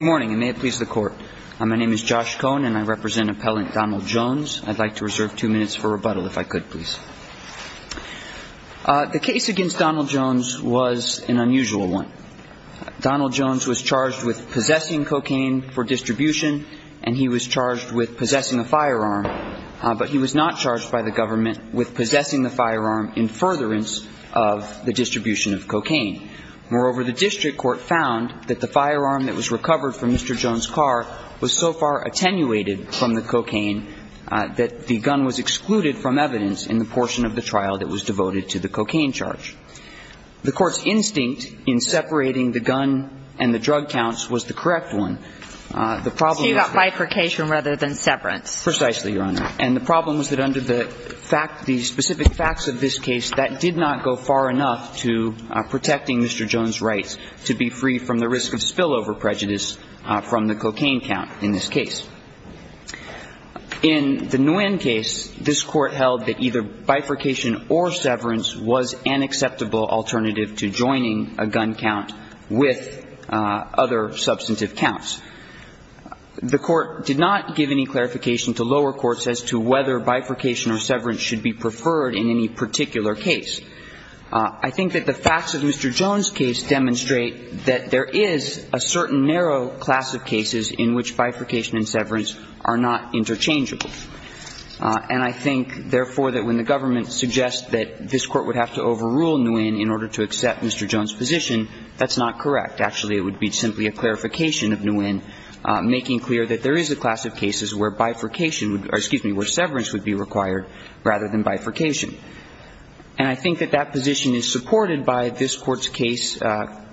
Good morning and may it please the court. My name is Josh Cohen and I represent appellant Donald Jones. I'd like to reserve two minutes for rebuttal if I could please. The case against Donald Jones was an unusual one. Donald Jones was charged with possessing cocaine for distribution and he was charged with possessing a firearm but he was not charged by the government with possessing the firearm in furtherance of the distribution of cocaine. Moreover the district court found that the firearm that was recovered from Mr. Jones' car was so far attenuated from the cocaine that the gun was excluded from evidence in the portion of the trial that was devoted to the cocaine charge. The court's instinct in separating the gun and the drug counts was the correct one. The problem was that So you got bifurcation rather than severance. Precisely, Your Honor. And the problem was that under the fact, the specific facts of this case that did not go far enough to protecting Mr. Jones' rights to be free from the risk of spillover prejudice from the cocaine count in this case. In the Nguyen case, this court held that either bifurcation or severance was an acceptable alternative to joining a gun count with other substantive counts. The court did not give any clarification to lower courts as to whether bifurcation or severance should be preferred in any particular case. I think that the facts of Mr. Jones' case demonstrate that there is a certain narrow class of cases in which bifurcation and severance are not interchangeable. And I think, therefore, that when the government suggests that this court would have to overrule Nguyen in order to accept Mr. Jones' position, that's not correct. Actually, it would be simply a clarification of Nguyen, making clear that there And I think that that position is supported by this court's case,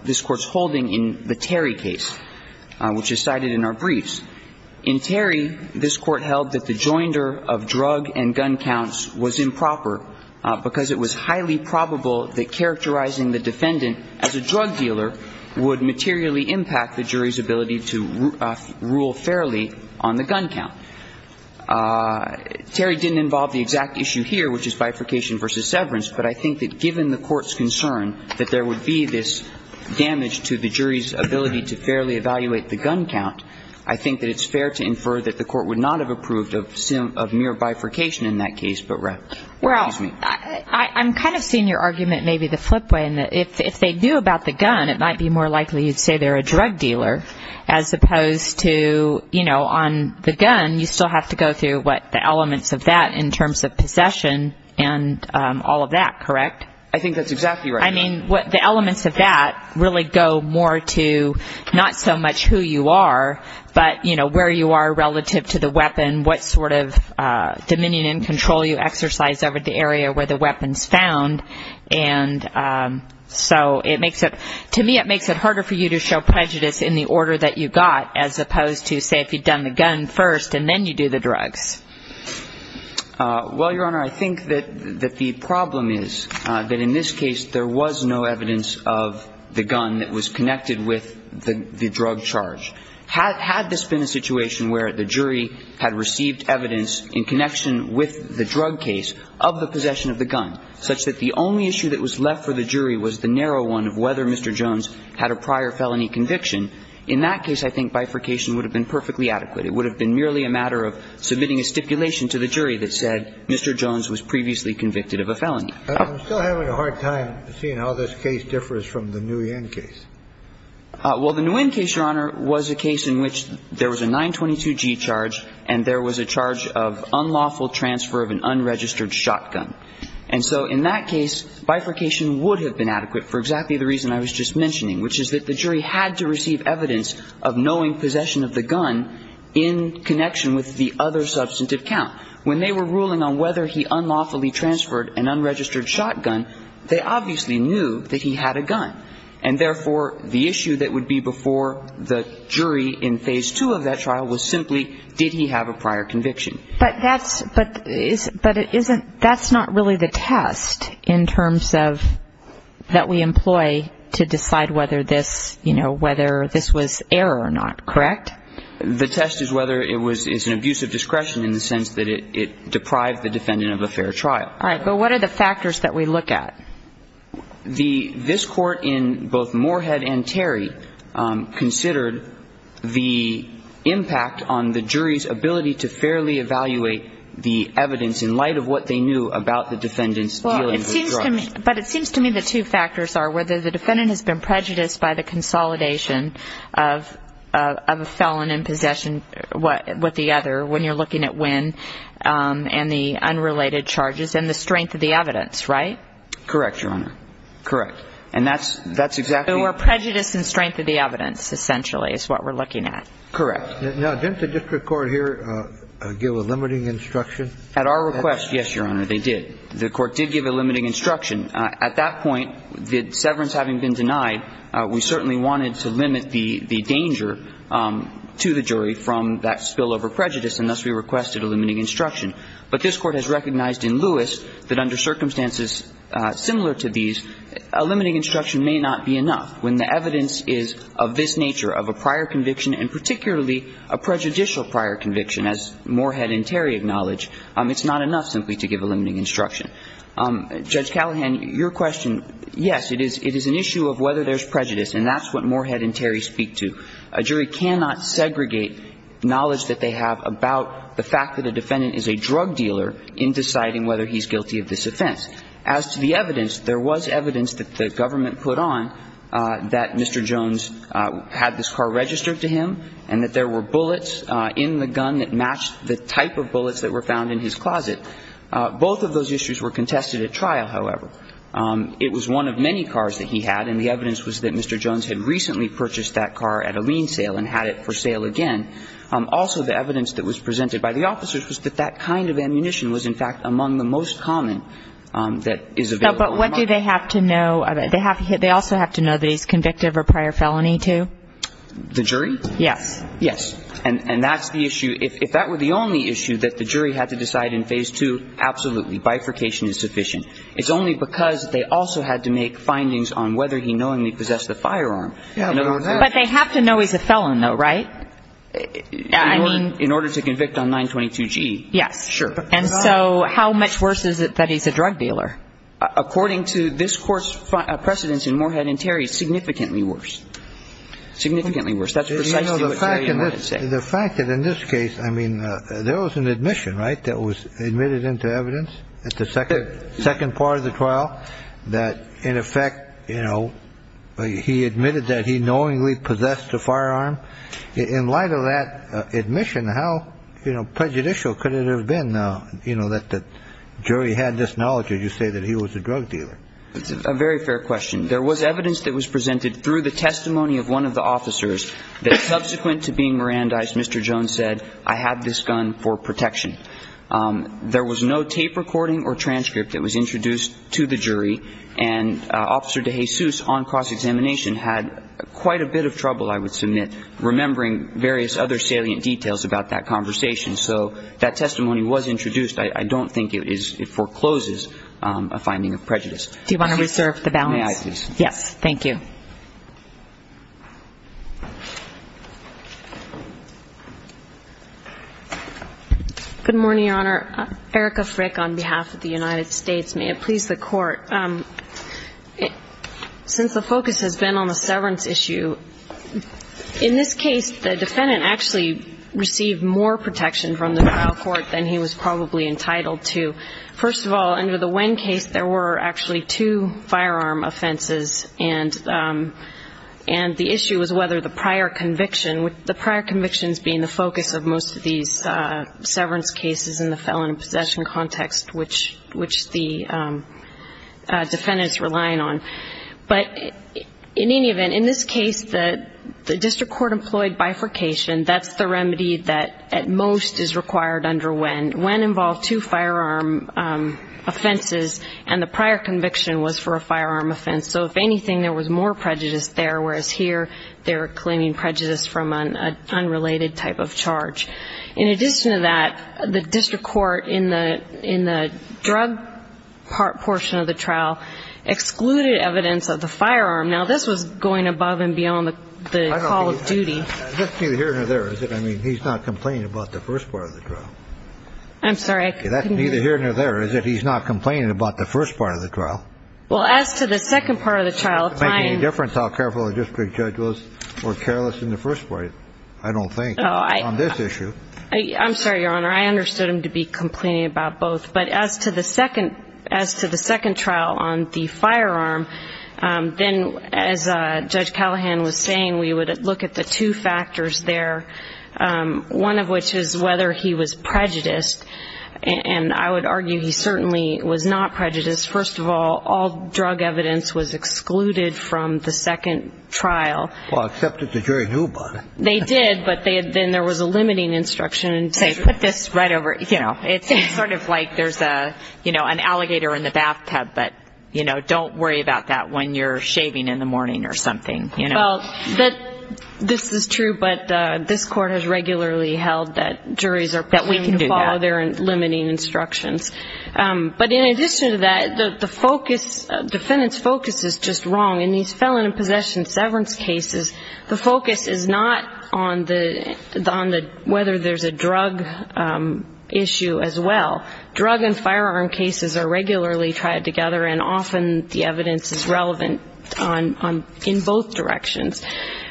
this court's holding in the Terry case, which is cited in our briefs. In Terry, this court held that the joinder of drug and gun counts was improper because it was highly probable that characterizing the defendant as a drug dealer would materially impact the jury's ability to fairly evaluate the gun count. Terry didn't involve the exact issue here, which is bifurcation versus severance, but I think that given the court's concern that there would be this damage to the jury's ability to fairly evaluate the gun count, I think that it's fair to infer that the court would not have approved of a mere bifurcation in that case. I'm kind of seeing your argument maybe the flip way. If they knew about the gun, it might be more likely you'd say they're a drug dealer, as opposed to on the gun, you still have to go through the elements of that in terms of possession and all of that, correct? I think that's exactly right. I mean, the elements of that really go more to not so much who you are, but where you are relative to the weapon, what sort of dominion and control you exercise over the area where the weapon's found. So to me it makes it harder for you to show prejudice in the order that you got, as opposed to, say, if you'd done the gun first and then you do the drugs. Well, Your Honor, I think that the problem is that in this case there was no evidence of the gun that was connected with the drug charge. Had this been a situation where the jury had received evidence in connection with the drug case of the possession of the gun, such that the only issue that was left for the jury was the narrow one of whether Mr. Jones had a prior felony conviction, in that case I think bifurcation would have been perfectly adequate. It would have been merely a matter of submitting a stipulation to the jury that said Mr. Jones was previously convicted of a felony. I'm still having a hard time seeing how this case differs from the Nguyen case. Well, the Nguyen case, Your Honor, was a case in which there was a 922G charge and there was a charge of unlawful transfer of an unregistered shotgun. And so in that case bifurcation would have been adequate for exactly the reason I was just mentioning, which is that the jury had to receive evidence of knowing possession of the gun in connection with the other substantive count. When they were ruling on whether he unlawfully transferred an unregistered shotgun, they obviously knew that he had a gun. And therefore, the issue that would be before the jury in Phase 2 of that trial was simply did he have a prior conviction. But that's not really the test in terms of that we employ to decide whether this was error or not, correct? The test is whether it was an abuse of discretion in the sense that it deprived the defendant of a fair trial. All right. But what are the factors that we look at? This court in both Moorhead and Terry considered the impact on the jury's ability to fairly evaluate the evidence in light of what they knew about the defendant's dealings with drugs. But it seems to me the two factors are whether the defendant has been prejudiced by the consolidation of a felon in possession with the other when you're looking at Wynn and the unrelated charges and the strength of the evidence, right? Correct, Your Honor. Correct. And that's exactly- So a prejudice in strength of the evidence, essentially, is what we're looking at. Correct. Now, didn't the district court here give a limiting instruction? At our request, yes, Your Honor, they did. The court did give a limiting instruction. At that point, the severance having been denied, we certainly wanted to limit the danger to the jury from that spillover prejudice, and thus we requested a limiting instruction. But this court has recognized in Lewis that under circumstances similar to these, a limiting instruction may not be enough. When the evidence is of this nature, of a prior conviction, and particularly a prejudicial prior conviction, as Moorhead and Terry acknowledge, it's not enough simply to give a limiting instruction. Judge Callahan, your question, yes, it is an issue of whether there's prejudice, and that's what Moorhead and Terry speak to. A jury cannot segregate knowledge that they have about the fact that a defendant is a drug dealer in deciding whether he's guilty of this offense. As to the evidence, there was evidence that the government put on that Mr. Jones had this car registered to him and that there were bullets in the gun that matched the type of bullets that were found in his closet. Both of those issues were contested at trial, however. It was one of many cars that he had, and the evidence was that Mr. Jones had recently purchased that car at a lean sale and had it for sale again. Also, the evidence that was presented by the officers was that that kind of ammunition was, in fact, among the most common that is available. But what do they have to know? They also have to know that he's convicted of a prior felony, too? The jury? Yes. Yes. And that's the issue. If that were the only issue that the jury had to decide in Phase 2, absolutely. Bifurcation is sufficient. It's only because they also had to make findings on whether he knowingly possessed the firearm. But they have to know he's a felon, though, right? I mean... In order to convict on 922G. Yes. Sure. And so how much worse is it that he's a drug dealer? According to this Court's precedents in Moorhead and Terry, significantly worse. Significantly worse. You know, the fact that in this case, I mean, there was an admission, right, that was admitted into evidence at the second part of the trial that, in effect, you know, he admitted that he knowingly possessed a firearm. In light of that admission, how prejudicial could it have been, you know, that the jury had this knowledge, as you say, that he was a drug dealer? It's a very fair question. There was evidence that was presented through the testimony of one of the officers that subsequent to being Mirandized, Mr. Jones said, I have this gun for protection. There was no tape recording or transcript that was introduced to the jury, and Officer DeJesus on cross-examination had quite a bit of trouble, I would submit, remembering various other salient details about that conversation. So that testimony was introduced. I don't think it forecloses a finding of prejudice. Do you want to reserve the balance? May I, please? Yes. Thank you. Good morning, Your Honor. Erica Frick on behalf of the United States. May it please the Court. Since the focus has been on the severance issue, in this case, the defendant actually received more protection from the trial court than he was probably entitled to. First of all, under the Wen case, there were actually two firearm offenses and the issue was whether the prior conviction, the prior convictions being the focus of most of these severance cases in the felon and possession context, which the defendant is relying on. But in any event, in this case, the district court employed bifurcation. That's the remedy that at most is required under Wen. Wen involved two firearm offenses, and the prior conviction was for a firearm offense. So if anything, there was more prejudice there, whereas here they were claiming prejudice from an unrelated type of charge. In addition to that, the district court in the drug portion of the trial excluded evidence of the firearm. Now, this was going above and beyond the call of duty. That's neither here nor there, is it? I mean, he's not complaining about the first part of the trial. I'm sorry. That's neither here nor there, is it? He's not complaining about the first part of the trial. Well, as to the second part of the trial. It doesn't make any difference how careful the district judge was or careless in the first part, I don't think, on this issue. I'm sorry, Your Honor. I understood him to be complaining about both. But as to the second trial on the firearm, then as Judge Callahan was saying, we would look at the two factors there, one of which is whether he was prejudiced. And I would argue he certainly was not prejudiced. Because, first of all, all drug evidence was excluded from the second trial. Well, except that the jury knew about it. They did, but then there was a limiting instruction, saying put this right over, you know, it's sort of like there's an alligator in the bathtub, but don't worry about that when you're shaving in the morning or something. Well, this is true, but this court has regularly held that we can follow their limiting instructions. But in addition to that, the focus, the defendant's focus is just wrong. In these felon and possession severance cases, the focus is not on whether there's a drug issue as well. Drug and firearm cases are regularly tried together and often the evidence is relevant in both directions.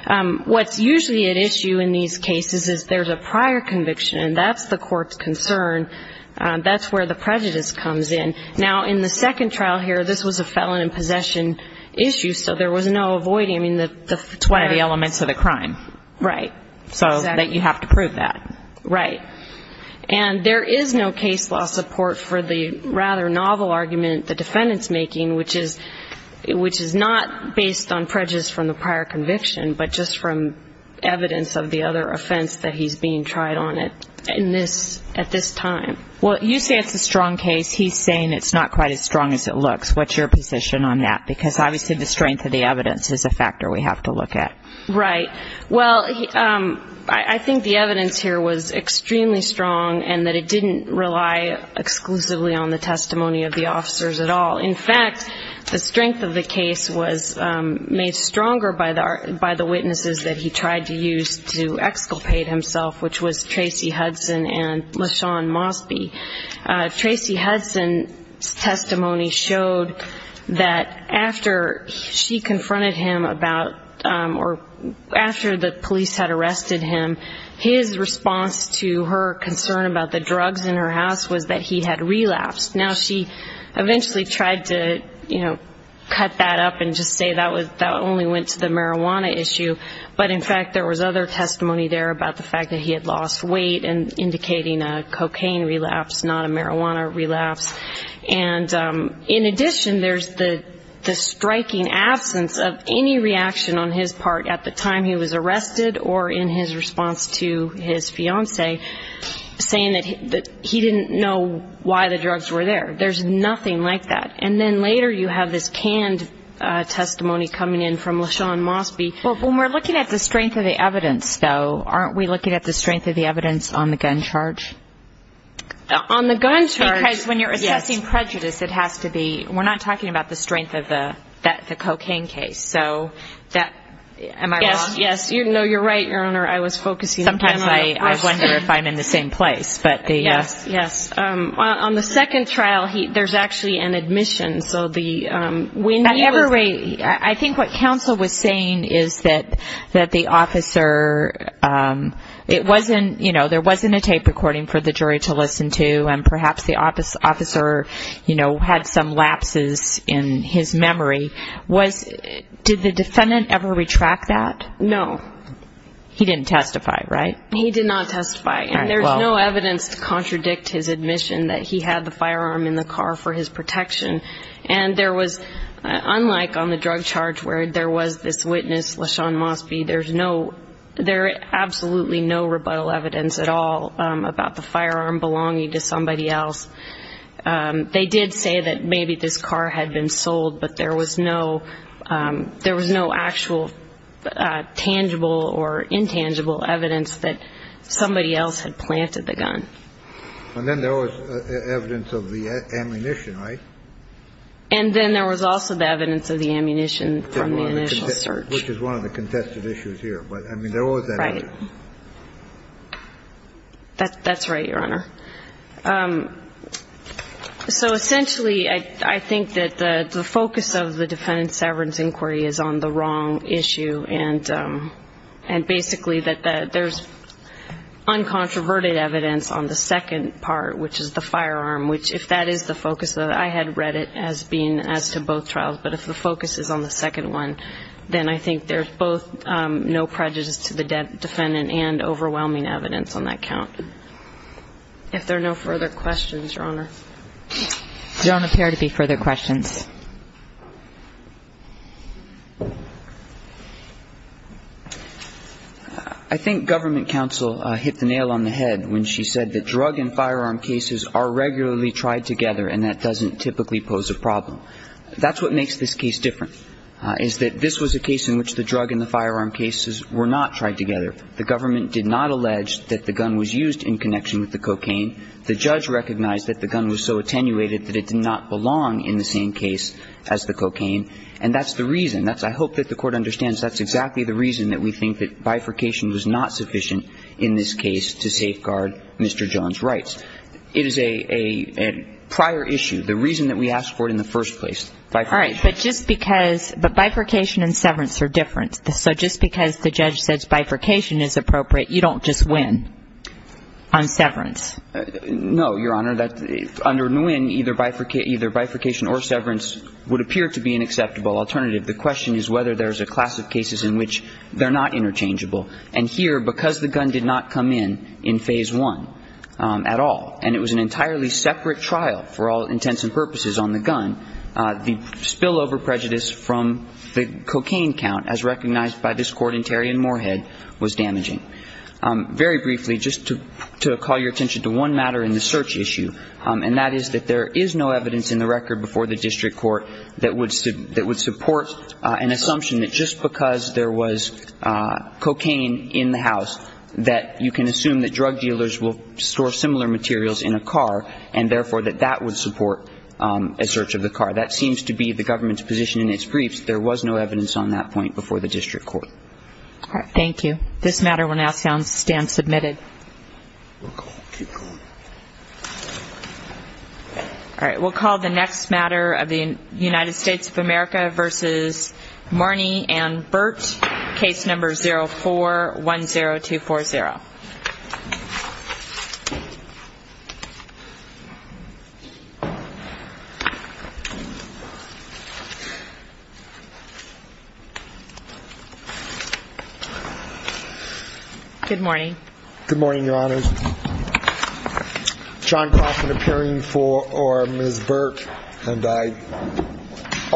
What's usually at issue in these cases is there's a prior conviction and that's the court's concern. That's where the prejudice comes in. Now, in the second trial here, this was a felon and possession issue, so there was no avoiding. It's one of the elements of the crime. Right. So you have to prove that. Right. And there is no case law support for the rather novel argument the defendant's making, which is not based on prejudice from the prior conviction, but just from evidence of the other offense that he's being tried on at this time. Well, you say it's a strong case. He's saying it's not quite as strong as it looks. What's your position on that? Because obviously the strength of the evidence is a factor we have to look at. Right. Well, I think the evidence here was extremely strong and that it didn't rely exclusively on the testimony of the officers at all. In fact, the strength of the case was made stronger by the witnesses that he tried to use to exculpate himself, which was Tracy Hudson and LaShawn Mosby. Tracy Hudson's testimony showed that after she confronted him about or after the police had arrested him, his response to her concern about the drugs in her house was that he had relapsed. Now, she eventually tried to, you know, cut that up and just say that only went to the marijuana issue, but in fact there was other testimony there about the fact that he had lost weight and indicating a cocaine relapse, not a marijuana relapse. And in addition, there's the striking absence of any reaction on his part at the time he was arrested or in his response to his fiancée saying that he didn't know why the drugs were there. There's nothing like that. And then later you have this canned testimony coming in from LaShawn Mosby. Well, when we're looking at the strength of the evidence, though, aren't we looking at the strength of the evidence on the gun charge? On the gun charge, yes. Because when you're assessing prejudice, it has to be, we're not talking about the strength of the cocaine case. So that, am I wrong? Yes, yes. No, you're right, Your Honor. I was focusing. Sometimes I wonder if I'm in the same place. Yes, yes. On the second trial, there's actually an admission. At every rate, I think what counsel was saying is that the officer, it wasn't, you know, there wasn't a tape recording for the jury to listen to and perhaps the officer, you know, had some lapses in his memory. Did the defendant ever retract that? No. He didn't testify, right? He did not testify. And there's no evidence to contradict his admission that he had the firearm in the car for his protection and there was, unlike on the drug charge where there was this witness, LaShawn Mosby, there's no, there's absolutely no rebuttal evidence at all about the firearm belonging to somebody else. They did say that maybe this car had been sold, but there was no actual tangible or intangible evidence that somebody else had planted the gun. And then there was evidence of the ammunition, right? And then there was also the evidence of the ammunition from the initial search. Which is one of the contested issues here. But, I mean, there was that evidence. Right. That's right, Your Honor. So essentially, I think that the focus of the defendant's severance inquiry is on the wrong issue and basically that there's uncontroverted evidence on the second part, which is the firearm, which if that is the focus, I had read it as being as to both trials, but if the focus is on the second one, then I think there's both no prejudice to the defendant and overwhelming evidence on that count. If there are no further questions, Your Honor. There don't appear to be further questions. I think government counsel hit the nail on the head when she said that drug and firearm cases are regularly tried together and that doesn't typically pose a problem. That's what makes this case different, is that this was a case in which the drug and the firearm cases were not tried together. The government did not allege that the gun was used in connection with the cocaine. The judge recognized that the gun was so attenuated that it did not belong in the same case as the cocaine. And that's the reason. I hope that the Court understands that's exactly the reason that we think that bifurcation was not sufficient in this case to safeguard Mr. John's rights. It is a prior issue. The reason that we asked for it in the first place. But bifurcation and severance are different. So just because the judge says bifurcation is appropriate, you don't just win on severance? No, Your Honor. Under Nguyen, either bifurcation or severance would appear to be an acceptable alternative. The question is whether there's a class of cases in which they're not interchangeable. And here, because the gun did not come in in Phase 1 at all, and it was an entirely separate trial for all intents and purposes on the gun, the spillover prejudice from the cocaine count as recognized by this Court in Terry and Moorhead was damaging. Very briefly, just to call your attention to one matter in the search issue, and that is that there is no evidence in the record before the District Court that would support an assumption that just because there was cocaine in the house, that you can assume that drug dealers will store similar materials in a car, and therefore that that would support a search of the car. That seems to be the government's position in its briefs. There was no evidence on that point before the District Court. All right, thank you. This matter will now stand submitted. Keep going. All right, we'll call the next matter of the United States of America versus Marnie and Burt, Case No. 04-10240. Good morning. Good morning, Your Honors. John Crossman appearing for Ms. Burt, and I...